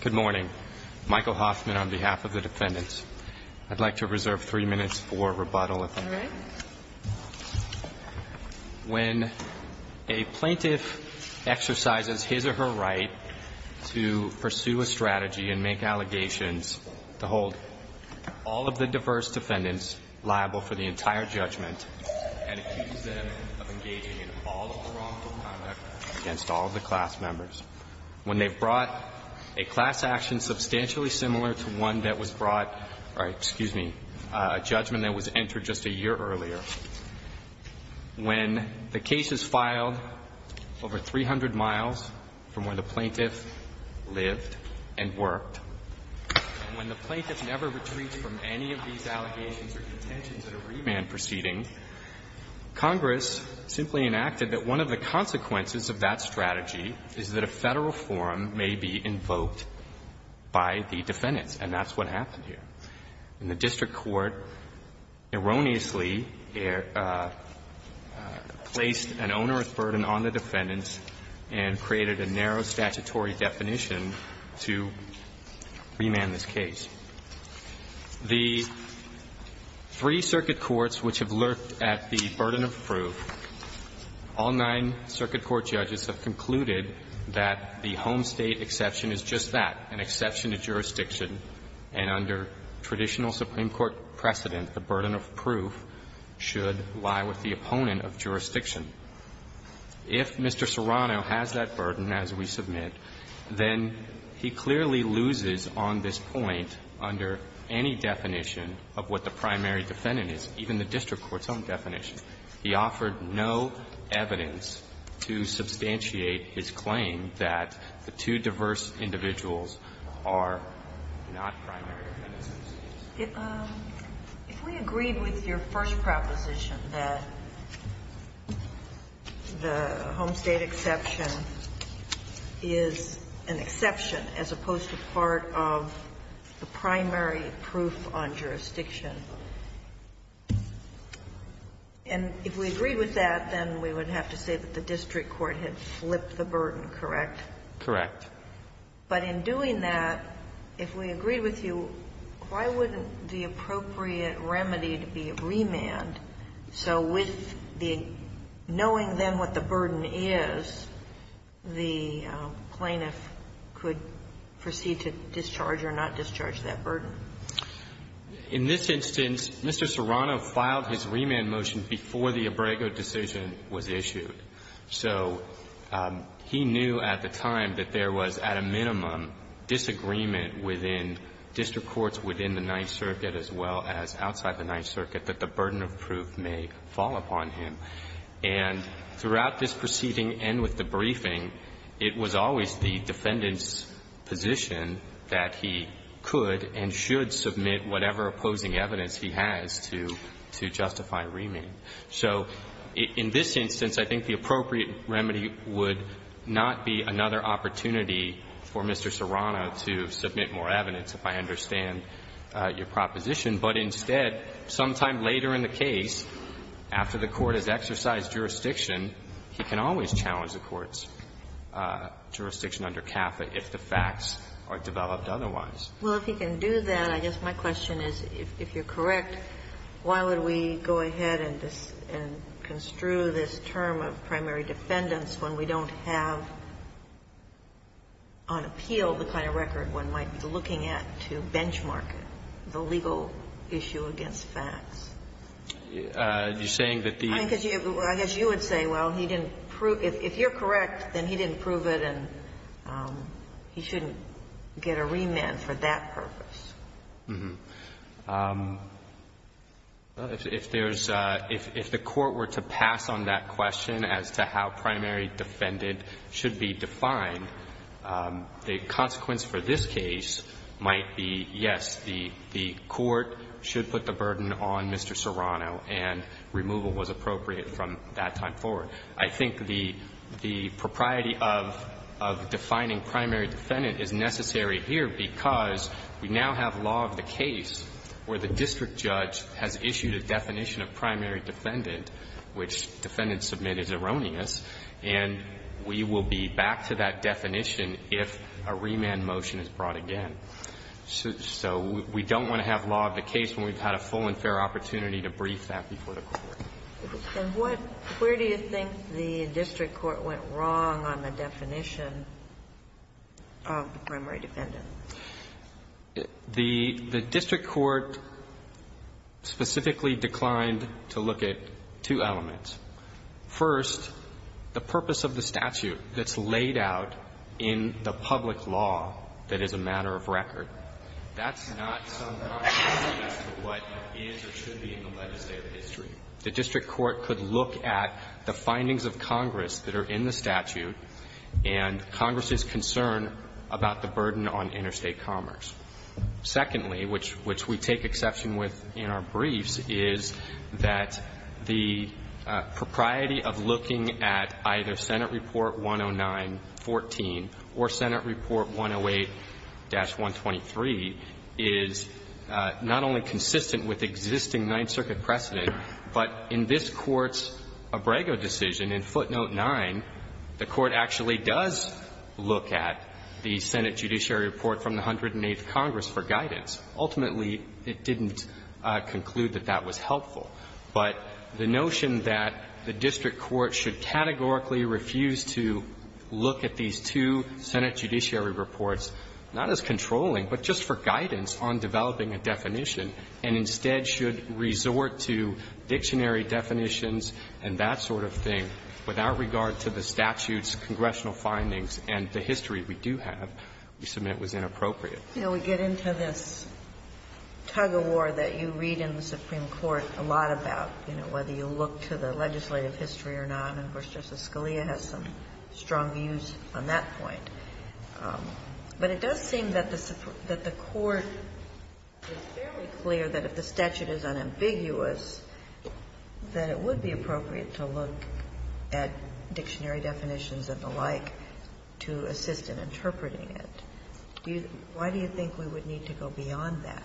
Good morning. Michael Hoffman on behalf of the defendants. I'd like to reserve three minutes for rebuttal if I may. When a plaintiff exercises his or her right to pursue a strategy and make allegations to hold all of the diverse defendants liable for the entire judgment and accuse them of engaging in all of the wrongful conduct against all of the class members. When they've brought a class action substantially similar to one that was brought, or excuse me, a judgment that was entered just a year earlier. When the case is filed over 300 miles from where the plaintiff lived and worked, and when the plaintiff never retreats from any of these allegations or contentions at a remand proceeding, Congress simply enacted that one of the consequences of that strategy is that a Federal forum may be invoked by the defendants, and that's what happened here. And the district court erroneously placed an onerous burden on the defendants and created a narrow statutory definition to remand this case. The three circuit courts which have looked at the burden of proof, all nine circuit court judges have concluded that the home state exception is just that, an exception to jurisdiction, and under traditional Supreme Court precedent, the burden of proof If Mr. Serrano has that burden, as we submit, then he clearly loses on this point under any definition of what the primary defendant is, even the district court's own definition. He offered no evidence to substantiate his claim that the two diverse individuals are not primary defendants. If we agreed with your first proposition that the home state exception is an exception as opposed to part of the primary proof on jurisdiction, and if we agreed with that, then we would have to say that the district court had flipped the burden, correct? Correct. But in doing that, if we agreed with you, why wouldn't the appropriate remedy be remand so with the knowing then what the burden is, the plaintiff could proceed to discharge or not discharge that burden? In this instance, Mr. Serrano filed his remand motion before the Abrego decision was issued. So he knew at the time that there was at a minimum disagreement within district courts within the Ninth Circuit as well as outside the Ninth Circuit that the burden of proof may fall upon him. And throughout this proceeding and with the briefing, it was always the defendant's position that he could and should submit whatever opposing evidence he has to justify remand. So in this instance, I think the appropriate remedy would not be another opportunity for Mr. Serrano to submit more evidence, if I understand your proposition. But instead, sometime later in the case, after the court has exercised jurisdiction, he can always challenge the court's jurisdiction under CAFA if the facts are developed otherwise. Well, if he can do that, I guess my question is, if you're correct, why would we go ahead and construe this term of primary defendants when we don't have on appeal the kind of record one might be looking at to benchmark the legal issue against facts? You're saying that the ---- I guess you would say, well, he didn't prove ---- if you're correct, then he didn't prove it and he shouldn't get a remand for that purpose. If there's ---- if the court were to pass on that question as to how primary defendant should be defined, the consequence for this case might be, yes, the court should put the burden on Mr. Serrano and removal was appropriate from that time forward. I think the propriety of defining primary defendant is necessary here because we now have law of the case where the district judge has issued a definition of primary defendant, which defendant submit is erroneous, and we will be back to that definition if a remand motion is brought again. So we don't want to have law of the case when we've had a full and fair opportunity to brief that before the court. And what ---- where do you think the district court went wrong on the definition of primary defendant? The district court specifically declined to look at two elements. First, the purpose of the statute that's laid out in the public law that is a matter of record, that's not somewhat consistent with what is or should be in the legislative history. The district court could look at the findings of Congress that are in the statute and Congress's concern about the burden on interstate commerce. Secondly, which we take exception with in our briefs, is that the propriety of looking at either Senate Report 109-14 or Senate Report 108-123 is not only consistent with existing Ninth Circuit precedent, but in this Court's Abrego decision, in Footnote 9, the Court actually does look at the Senate Judiciary Report from the 108th Congress for guidance. Ultimately, it didn't conclude that that was helpful. But the notion that the district court should categorically refuse to look at these two Senate Judiciary Reports, not as controlling, but just for guidance on developing a definition, and instead should resort to dictionary definitions and that sort of thing without regard to the statute's congressional findings and the history we do have, we submit was inappropriate. Ginsburg. Now, we get into this tug of war that you read in the Supreme Court a lot about, you know, whether you look to the legislative history or not, and, of course, Justice Scalia has some strong views on that point. But it does seem that the Court is fairly clear that if the statute is unambiguous, that it would be appropriate to look at dictionary definitions and the like to assist in interpreting it. Why do you think we would need to go beyond that?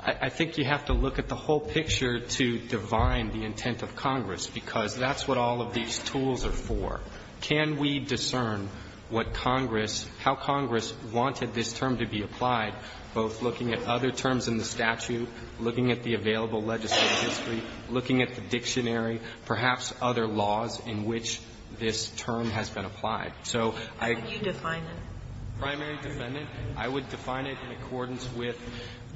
I think you have to look at the whole picture to divine the intent of Congress, because that's what all of these tools are for. Can we discern what Congress, how Congress wanted this term to be applied, both looking at other terms in the statute, looking at the available legislative history, looking at the dictionary, perhaps other laws in which this term has been applied? So I can't define it. How would you define it? Primary defendant. I would define it in accordance with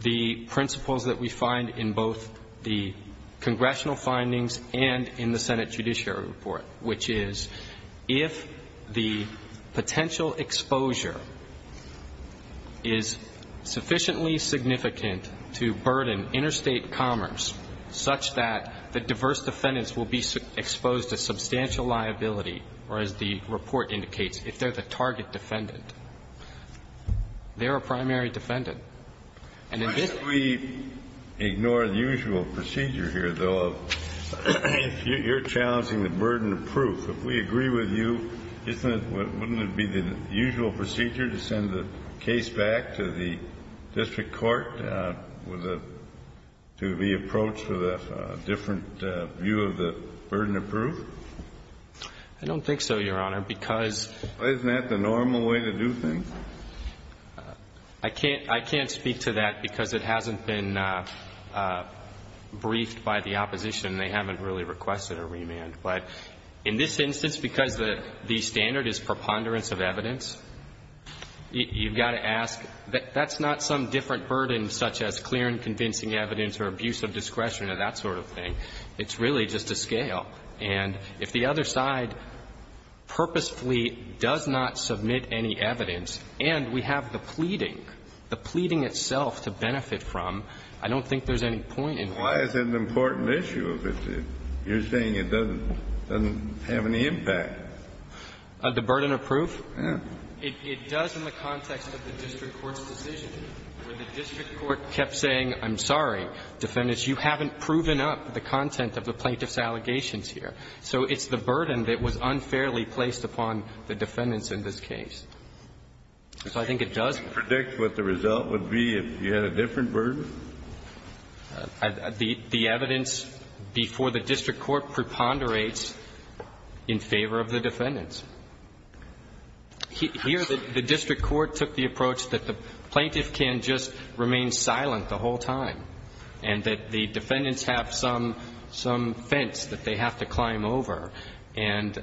the principles that we find in both the congressional findings and in the Senate Judiciary Report, which is if the potential exposure is sufficiently significant to burden interstate commerce such that the diverse defendants will be exposed to substantial liability, or as the report indicates, if they're the target defendant. They're a primary defendant. And in this case we ignore the usual procedure here, though, of you're challenging the burden of proof. If we agree with you, isn't it, wouldn't it be the usual procedure to send the case back to the district court with a, to be approached with a different view of the burden of proof? I don't think so, Your Honor, because. Isn't that the normal way to do things? I can't, I can't speak to that because it hasn't been briefed by the opposition. They haven't really requested a remand. But in this instance, because the standard is preponderance of evidence, you've got to ask, that's not some different burden such as clear and convincing evidence or abuse of discretion or that sort of thing. It's really just a scale. And if the other side purposefully does not submit any evidence and we have the pleading, the pleading itself to benefit from, I don't think there's any point in. Why is it an important issue if you're saying it doesn't, doesn't have any impact? The burden of proof? Yeah. It does in the context of the district court's decision, where the district court kept saying, I'm sorry, defendants, you haven't proven up the content of the plaintiff's allegations here. So it's the burden that was unfairly placed upon the defendants in this case. So I think it does. Can you predict what the result would be if you had a different burden? The evidence before the district court preponderates in favor of the defendants. Here, the district court took the approach that the plaintiff can just remain silent the whole time and that the defendants have some fence that they have to climb over. And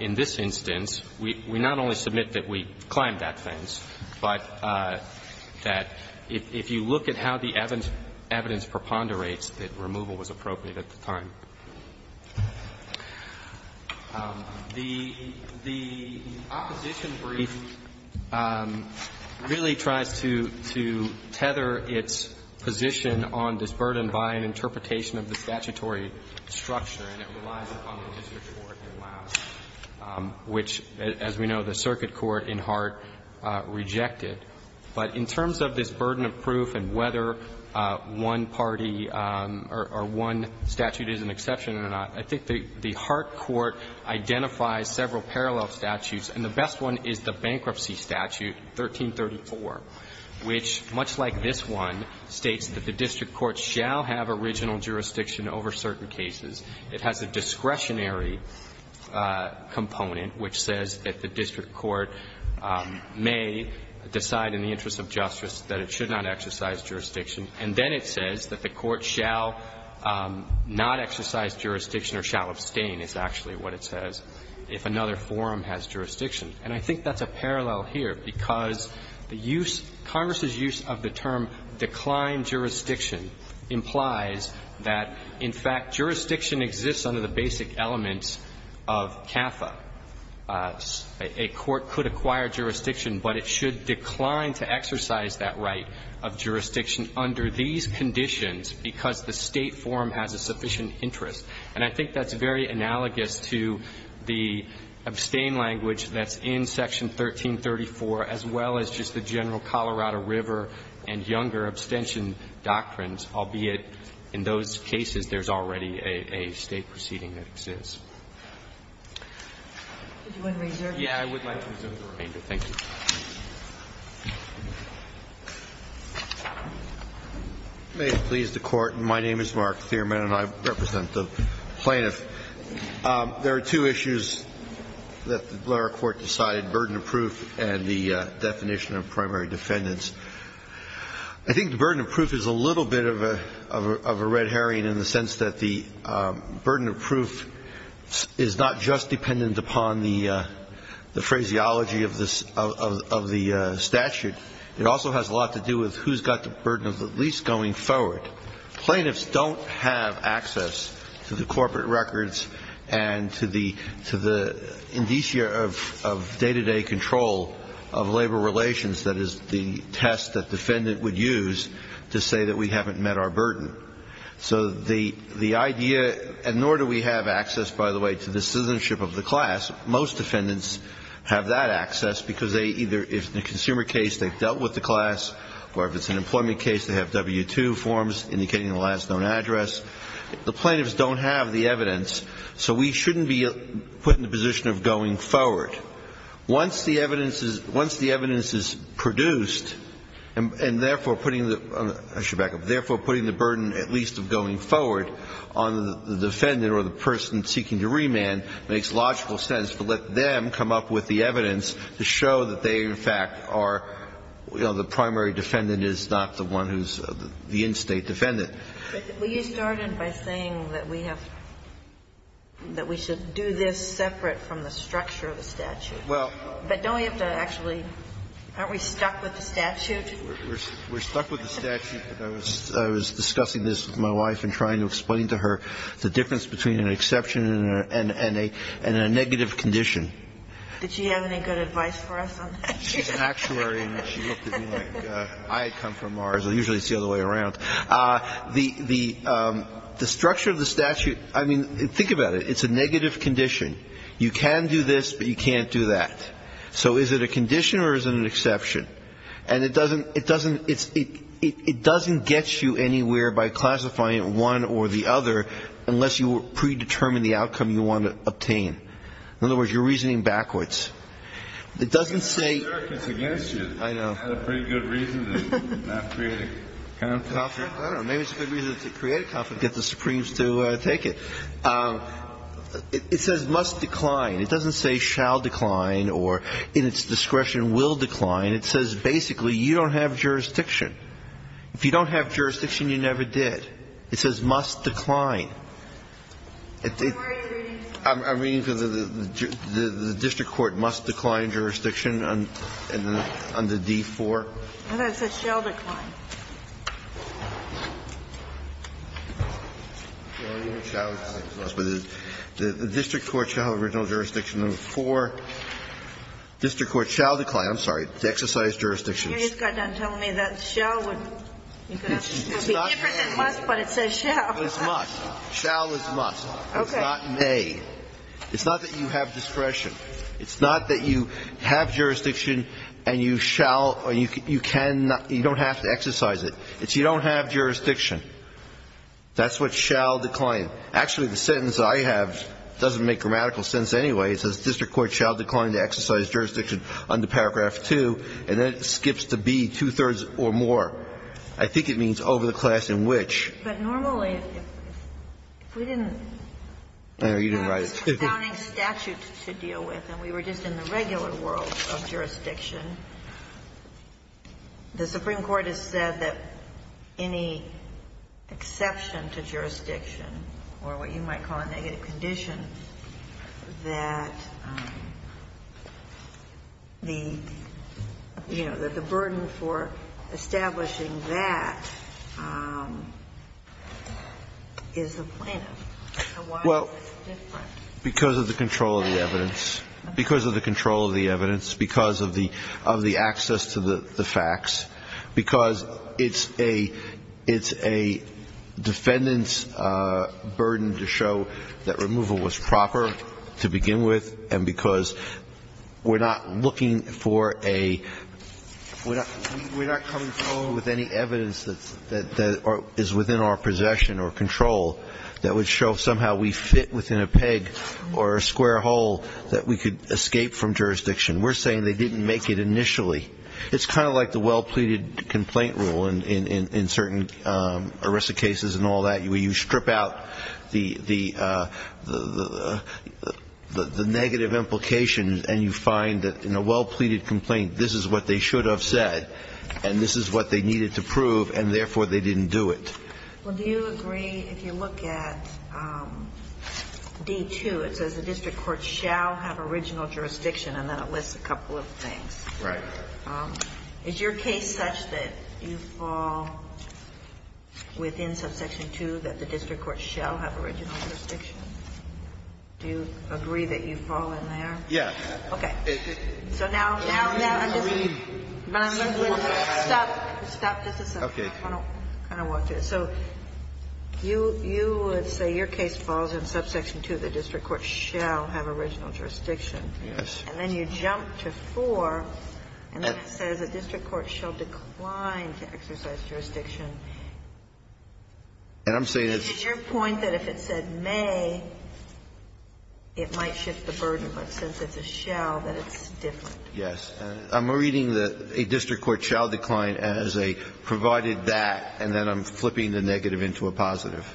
in this instance, we not only submit that we climbed that fence, but that if you look at how the evidence preponderates, that removal was appropriate at the time. The opposition brief really tries to tether its position on this burden by an interpretation of the statutory structure, and it relies upon the district court to allow it, which, as we know, the circuit court in Hart rejected. But in terms of this burden of proof and whether one party or one statute is an exception or not, I think the Hart court identifies several parallel statutes. And the best one is the Bankruptcy Statute 1334, which, much like this one, states that the district court shall have original jurisdiction over certain cases. It has a discretionary component which says that the district court may decide in the interest of justice that it should not exercise jurisdiction, and then it says that the court shall not exercise jurisdiction or shall abstain is actually what it says if another forum has jurisdiction. And I think that's a parallel here, because the use of Congress's use of the term declined jurisdiction implies that, in fact, jurisdiction exists under the basic elements of CAFA. A court could acquire jurisdiction, but it should decline to exercise that right of jurisdiction under these conditions because the State forum has a sufficient interest. And I think that's very analogous to the abstain language that's in Section 1334, as well as just the general Colorado River and Younger abstention doctrines, albeit in those cases there's already a State proceeding that exists. Yeah. I would like to reserve the remainder. Thank you. Thiermann. May it please the Court. My name is Mark Thiermann, and I represent the plaintiff. There are two issues that the Blair court decided, burden of proof and the definition of primary defendants. I think the burden of proof is a little bit of a red herring in the sense that the burden of proof is not just dependent upon the phraseology of the statute. It also has a lot to do with who's got the burden of the lease going forward. Plaintiffs don't have access to the corporate records and to the indicia of day-to-day control of labor relations that is the test that defendant would use to say that we haven't met our burden. So the idea, and nor do we have access, by the way, to the citizenship of the class. Most defendants have that access because they either, if it's a consumer case, they've dealt with the class, or if it's an employment case, they have W-2 forms indicating the last known address. The plaintiffs don't have the evidence, so we shouldn't be put in the position of going forward. Once the evidence is produced and therefore putting the burden, I should back up, therefore putting the burden at least of going forward on the defendant or the person seeking to remand makes logical sense to let them come up with the evidence to show that they in fact are, you know, the primary defendant is not the one who's the in-State defendant. We started by saying that we have, that we should do this separate from the structure of the statute. Well. But don't we have to actually, aren't we stuck with the statute? We're stuck with the statute. I was discussing this with my wife and trying to explain to her the difference between an exception and a negative condition. Did she have any good advice for us on that? She's an actuary, and she looked at me like I had come from Mars. Usually it's the other way around. The structure of the statute, I mean, think about it. It's a negative condition. You can do this, but you can't do that. So is it a condition or is it an exception? And it doesn't, it doesn't, it doesn't get you anywhere by classifying it one or the other unless you predetermine the outcome you want to obtain. In other words, you're reasoning backwards. It doesn't say. I know. I don't know. Maybe it's a good reason to create a conflict, get the Supremes to take it. It says must decline. It doesn't say shall decline or in its discretion will decline. It says basically you don't have jurisdiction. If you don't have jurisdiction, you never did. It says must decline. I'm reading because of the district court must decline jurisdiction. I don't know why it says shall decline. The district court shall decline original jurisdiction number four. District court shall decline, I'm sorry, to exercise jurisdiction. You just got done telling me that shall would be different than must, but it says shall. It's not may. Shall is must. It's not may. It's not that you have discretion. It's not that you have jurisdiction and you shall or you can not, you don't have to exercise it. It's you don't have jurisdiction. That's what shall decline. Actually, the sentence I have doesn't make grammatical sense anyway. It says district court shall decline to exercise jurisdiction under paragraph two, and then it skips to be two-thirds or more. I think it means over the class in which. But normally, if we didn't have this confounding statute to deal with and we were just in the regular world of jurisdiction, the Supreme Court has said that any exception to jurisdiction or what you might call a negative condition, that the, you know, that the burden for establishing that is the plaintiff. And why is this different? Because of the control of the evidence. Because of the control of the evidence. Because of the access to the facts. Because it's a defendant's burden to show that removal was proper to begin with, and because we're not looking for a, we're not coming forward with any evidence that is within our possession or control that would show somehow we fit within a peg or a square hole that we could escape from jurisdiction. We're saying they didn't make it initially. It's kind of like the well-pleaded complaint rule in certain arrested cases and all that, where you strip out the negative implications and you find that in a well-pleaded complaint, this is what they should have said and this is what they needed to prove, and therefore, they didn't do it. Well, do you agree, if you look at D-2, it says the district court shall have original jurisdiction, and then it lists a couple of things. Right. Is your case such that you fall within subsection 2, that the district court shall have original jurisdiction? Do you agree that you fall in there? Yes. Okay. So now, now, now, I'm just going to stop. Stop. This is something I want to kind of walk through. So you would say your case falls in subsection 2, the district court shall have original jurisdiction. Yes. And then you jump to 4, and it says the district court shall decline to exercise jurisdiction. And I'm saying it's your point that if it said may, it might shift the burden, but since it's a shall, that it's different. Yes. I'm reading that a district court shall decline as a provided that, and then I'm flipping the negative into a positive.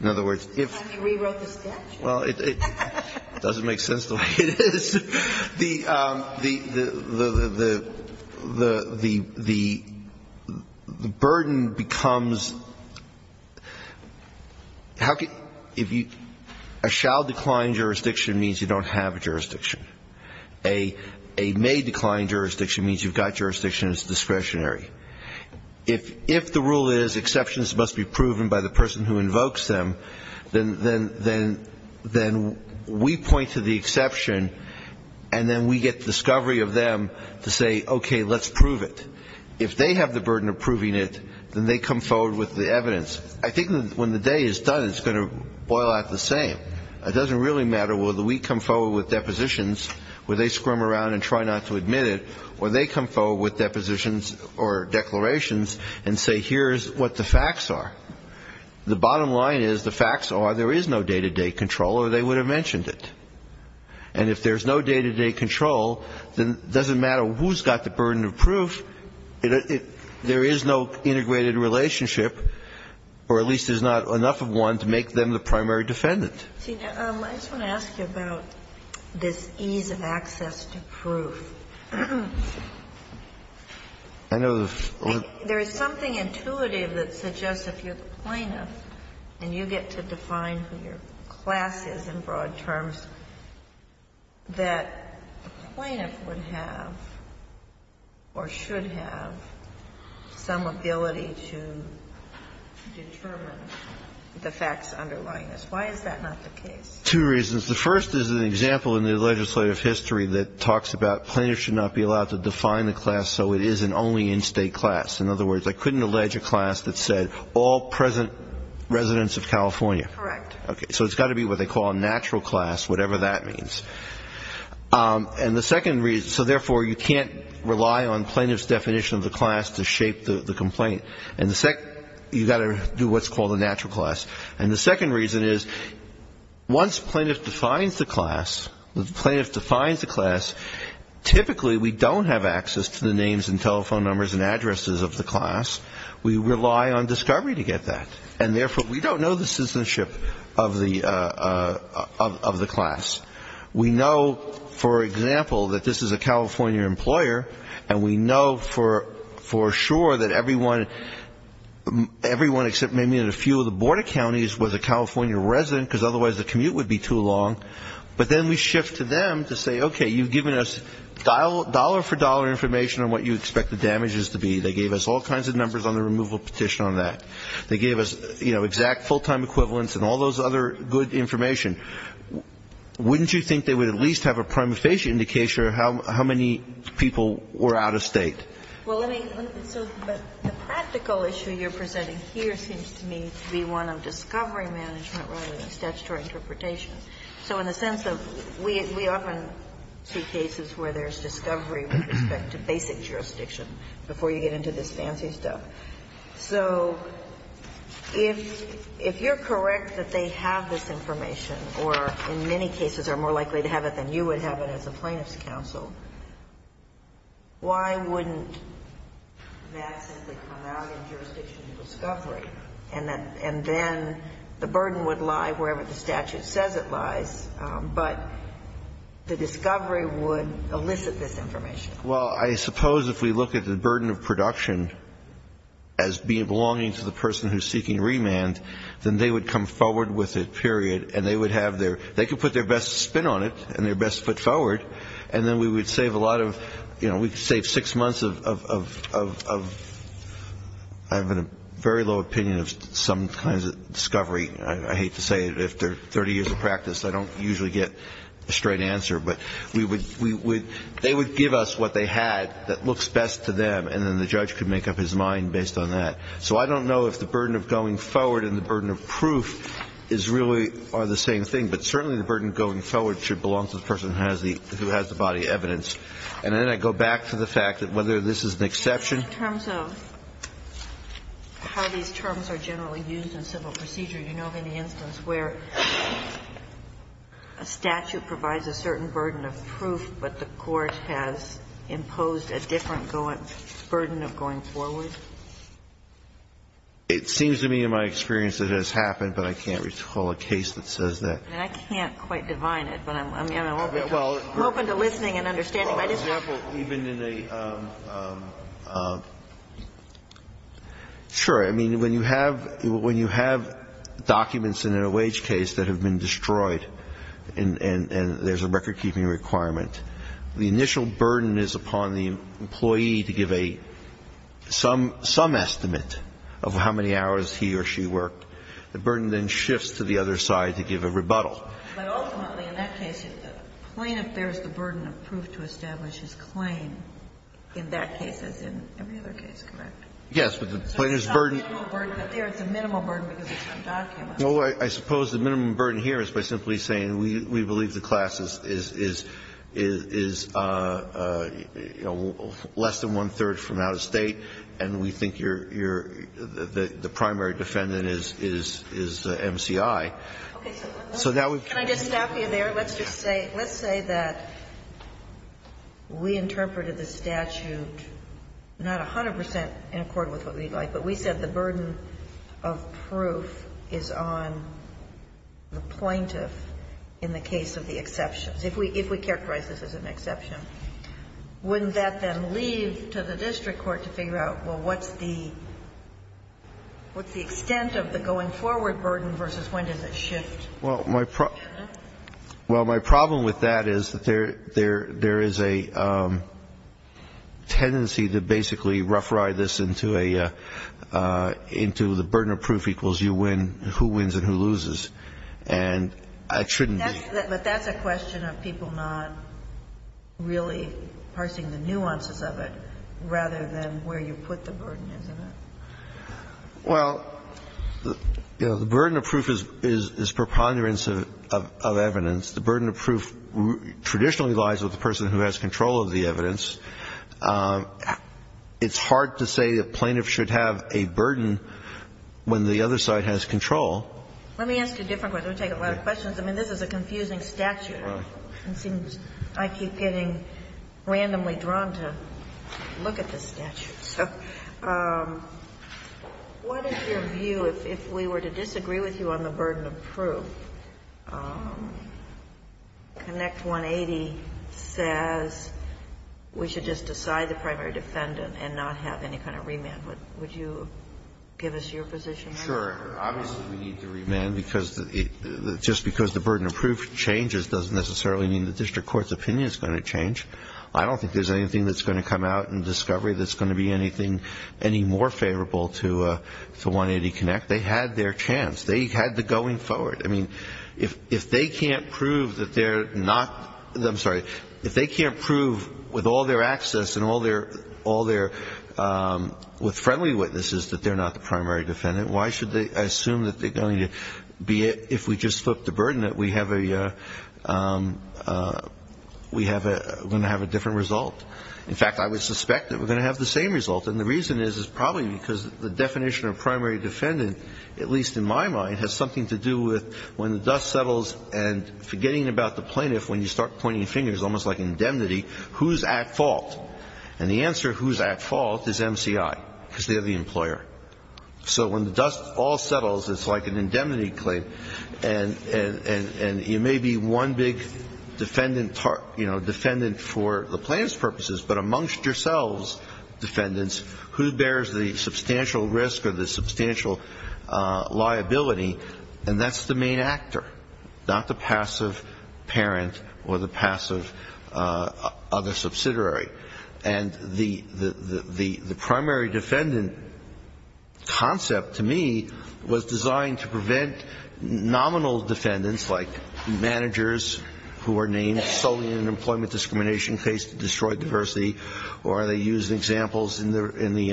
In other words, if you rewrote the statute. Well, it doesn't make sense the way it is. The, the, the, the, the, the, the, the burden becomes, how can, if you, a shall decline jurisdiction means you don't have a jurisdiction. A may decline jurisdiction means you've got jurisdiction that's discretionary. If, if the rule is exceptions must be proven by the person who invokes them, then, then, then, then we point to the exception, and then we get the discovery of them to say, okay, let's prove it. If they have the burden of proving it, then they come forward with the evidence. I think when the day is done, it's going to boil out the same. It doesn't really matter whether we come forward with depositions, where they squirm around and try not to admit it, or they come forward with depositions or declarations and say, here's what the facts are. The bottom line is the facts are there is no day-to-day control or they would have mentioned it. And if there's no day-to-day control, then it doesn't matter who's got the burden of proof. It, it, there is no integrated relationship, or at least there's not enough of one to make them the primary defendant. See, I just want to ask you about this ease of access to proof. I know the. There is something intuitive that suggests if you're the plaintiff and you get to define who your class is in broad terms, that the plaintiff would have or should have some ability to determine the facts underlying this. Why is that not the case? Two reasons. The first is an example in the legislative history that talks about plaintiffs should not be allowed to define the class so it is an only in-state class. In other words, I couldn't allege a class that said all present residents of California. Correct. Okay. So it's got to be what they call a natural class, whatever that means. And the second reason, so therefore you can't rely on plaintiff's definition of the class to shape the complaint. And the second, you've got to do what's called a natural class. And the second reason is once plaintiff defines the class, the plaintiff defines the access to the names and telephone numbers and addresses of the class. We rely on discovery to get that. And, therefore, we don't know the citizenship of the class. We know, for example, that this is a California employer, and we know for sure that everyone except maybe a few of the border counties was a California resident, because otherwise the commute would be too long. But then we shift to them to say, okay, you've given us dollar-for-dollar information on what you expect the damages to be. They gave us all kinds of numbers on the removal petition on that. They gave us, you know, exact full-time equivalents and all those other good information. Wouldn't you think they would at least have a prima facie indication of how many people were out of state? Well, let me, so the practical issue you're presenting here seems to me to be one of discovery management rather than statutory interpretation. So in the sense of we often see cases where there's discovery with respect to basic jurisdiction before you get into this fancy stuff. So if you're correct that they have this information, or in many cases are more likely to have it than you would have it as a plaintiff's counsel, why wouldn't that simply come out in jurisdiction of discovery and then the burden would lie wherever the statute says it lies, but the discovery would elicit this information? Well, I suppose if we look at the burden of production as belonging to the person who's seeking remand, then they would come forward with it, period, and they would have their, they could put their best spin on it and their best foot forward, and then we would save a lot of, you know, we could save six months of, I have a very low opinion of some kinds of discovery. I hate to say it, but if they're 30 years of practice, I don't usually get a straight answer. But we would, they would give us what they had that looks best to them, and then the judge could make up his mind based on that. So I don't know if the burden of going forward and the burden of proof is really the same thing, but certainly the burden of going forward should belong to the person who has the body evidence. And then I go back to the fact that whether this is an exception. In terms of how these terms are generally used in civil procedure, you know of any instance where a statute provides a certain burden of proof, but the court has imposed a different burden of going forward? It seems to me in my experience that it has happened, but I can't recall a case that says that. And I can't quite divine it, but I'm, you know, I'm open to listening and understanding. Well, for example, even in a, sure. I mean, when you have documents in a wage case that have been destroyed and there's a recordkeeping requirement, the initial burden is upon the employee to give a, some estimate of how many hours he or she worked. The burden then shifts to the other side to give a rebuttal. But ultimately in that case, the plaintiff bears the burden of proof to establish his claim in that case as in every other case, correct? Yes, but the plaintiff's burden. So it's not a minimal burden, but there it's a minimal burden because it's from documents. Well, I suppose the minimum burden here is by simply saying we believe the class is, is, is, you know, less than one-third from out of State, and we think you're the, the primary defendant is, is, is the MCI. Okay. So that would. Can I just stop you there? Let's just say, let's say that we interpreted the statute not 100 percent in accord with what we'd like, but we said the burden of proof is on the plaintiff in the case of the exceptions, if we, if we characterize this as an exception. Wouldn't that then leave to the district court to figure out, well, what's the, what's the extent of the going forward burden versus when does it shift? Well, my, well, my problem with that is that there, there, there is a tendency to basically rough ride this into a, into the burden of proof equals you win, who wins and who loses. And it shouldn't be. But that's, but that's a question of people not really parsing the nuances of it rather than where you put the burden, isn't it? Well, you know, the burden of proof is, is, is preponderance of, of, of evidence. The burden of proof traditionally lies with the person who has control of the evidence. It's hard to say a plaintiff should have a burden when the other side has control. Let me ask you a different question. It would take a lot of questions. I mean, this is a confusing statute. Right. It seems I keep getting randomly drawn to look at this statute. So what is your view if, if we were to disagree with you on the burden of proof? Connect 180 says we should just decide the primary defendant and not have any kind of remand. Would you give us your position on that? Obviously we need to remand because it, just because the burden of proof changes doesn't necessarily mean the district court's opinion is going to change. I don't think there's anything that's going to come out in discovery that's going to be anything any more favorable to, to 180 Connect. They had their chance. They had the going forward. I mean, if, if they can't prove that they're not, I'm sorry, if they can't prove with all their access and all their, all their, with friendly witnesses that they're not the plaintiff, I assume that they're going to be, if we just flip the burden, that we have a, we have a, we're going to have a different result. In fact, I would suspect that we're going to have the same result. And the reason is, is probably because the definition of primary defendant, at least in my mind, has something to do with when the dust settles and forgetting about the plaintiff, when you start pointing fingers, almost like indemnity, who's at fault? And the answer who's at fault is MCI because they're the employer. So when the dust all settles, it's like an indemnity claim. And, and, and, and you may be one big defendant, you know, defendant for the plaintiff's purposes, but amongst yourselves, defendants, who bears the substantial risk or the substantial liability? And that's the main actor, not the passive parent or the passive other subsidiary. And the, the, the, the primary defendant concept to me was designed to prevent nominal defendants, like managers who are named solely in an employment discrimination case to destroy diversity, or they use examples in the, in the,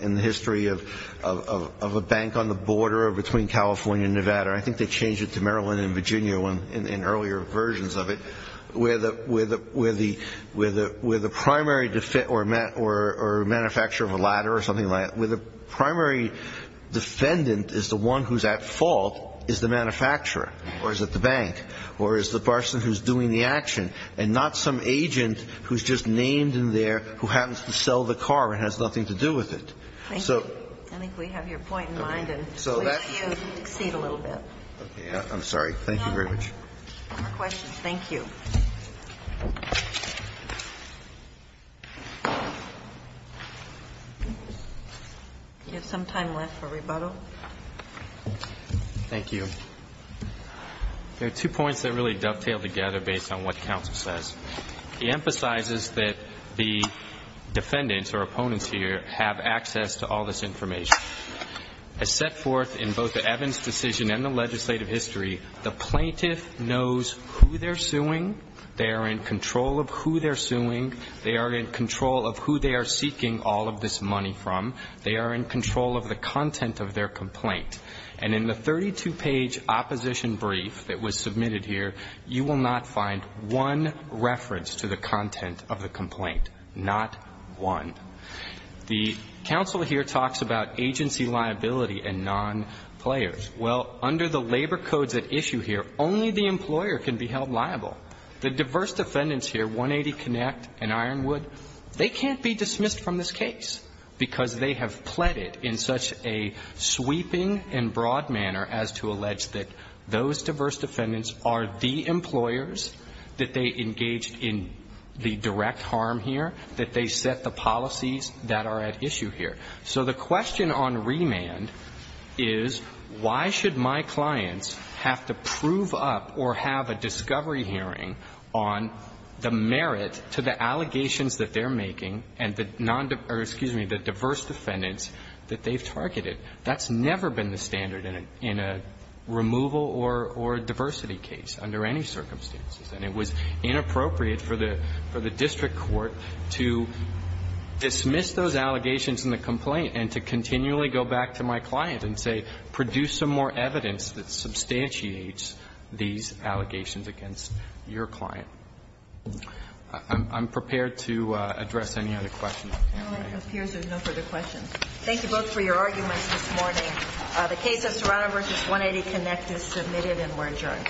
in the history of, of, of a bank on the border between California and Nevada. I think they changed it to Maryland and Virginia in earlier versions of it, where the, where the, where the, where the, where the primary defendant or man, or, or manufacturer of a ladder or something like that, where the primary defendant is the one who's at fault is the manufacturer, or is it the bank, or is the person who's doing the action, and not some agent who's just named in there who happens to sell the car and has nothing to do with it. So. Thank you. I think we have your point in mind. Okay. So that's. And we hope you succeed a little bit. Okay. I'm sorry. Thank you very much. No more questions. Thank you. Do you have some time left for rebuttal? Thank you. There are two points that really dovetail together based on what counsel says. He emphasizes that the defendants or opponents here have access to all this information. As set forth in both the Evans decision and the legislative history, the plaintiff knows who they're suing. They are in control of who they're suing. They are in control of who they are seeking all of this money from. They are in control of the content of their complaint. And in the 32-page opposition brief that was submitted here, you will not find one reference to the content of the complaint. Not one. The counsel here talks about agency liability and non-players. Well, under the labor codes at issue here, only the employer can be held liable. The diverse defendants here, 180 Connect and Ironwood, they can't be dismissed from this case because they have pleaded in such a sweeping and broad manner as to allege that those diverse defendants are the employers, that they engaged in the policies that are at issue here. So the question on remand is, why should my clients have to prove up or have a discovery hearing on the merit to the allegations that they're making and the non-diverse or, excuse me, the diverse defendants that they've targeted? That's never been the standard in a removal or diversity case under any circumstances. And it was inappropriate for the district court to dismiss those allegations in the complaint and to continually go back to my client and say, produce some more evidence that substantiates these allegations against your client. I'm prepared to address any other questions. It appears there's no further questions. Thank you both for your arguments this morning. The case of Serrano v. 180 Connect is submitted and we're adjourned.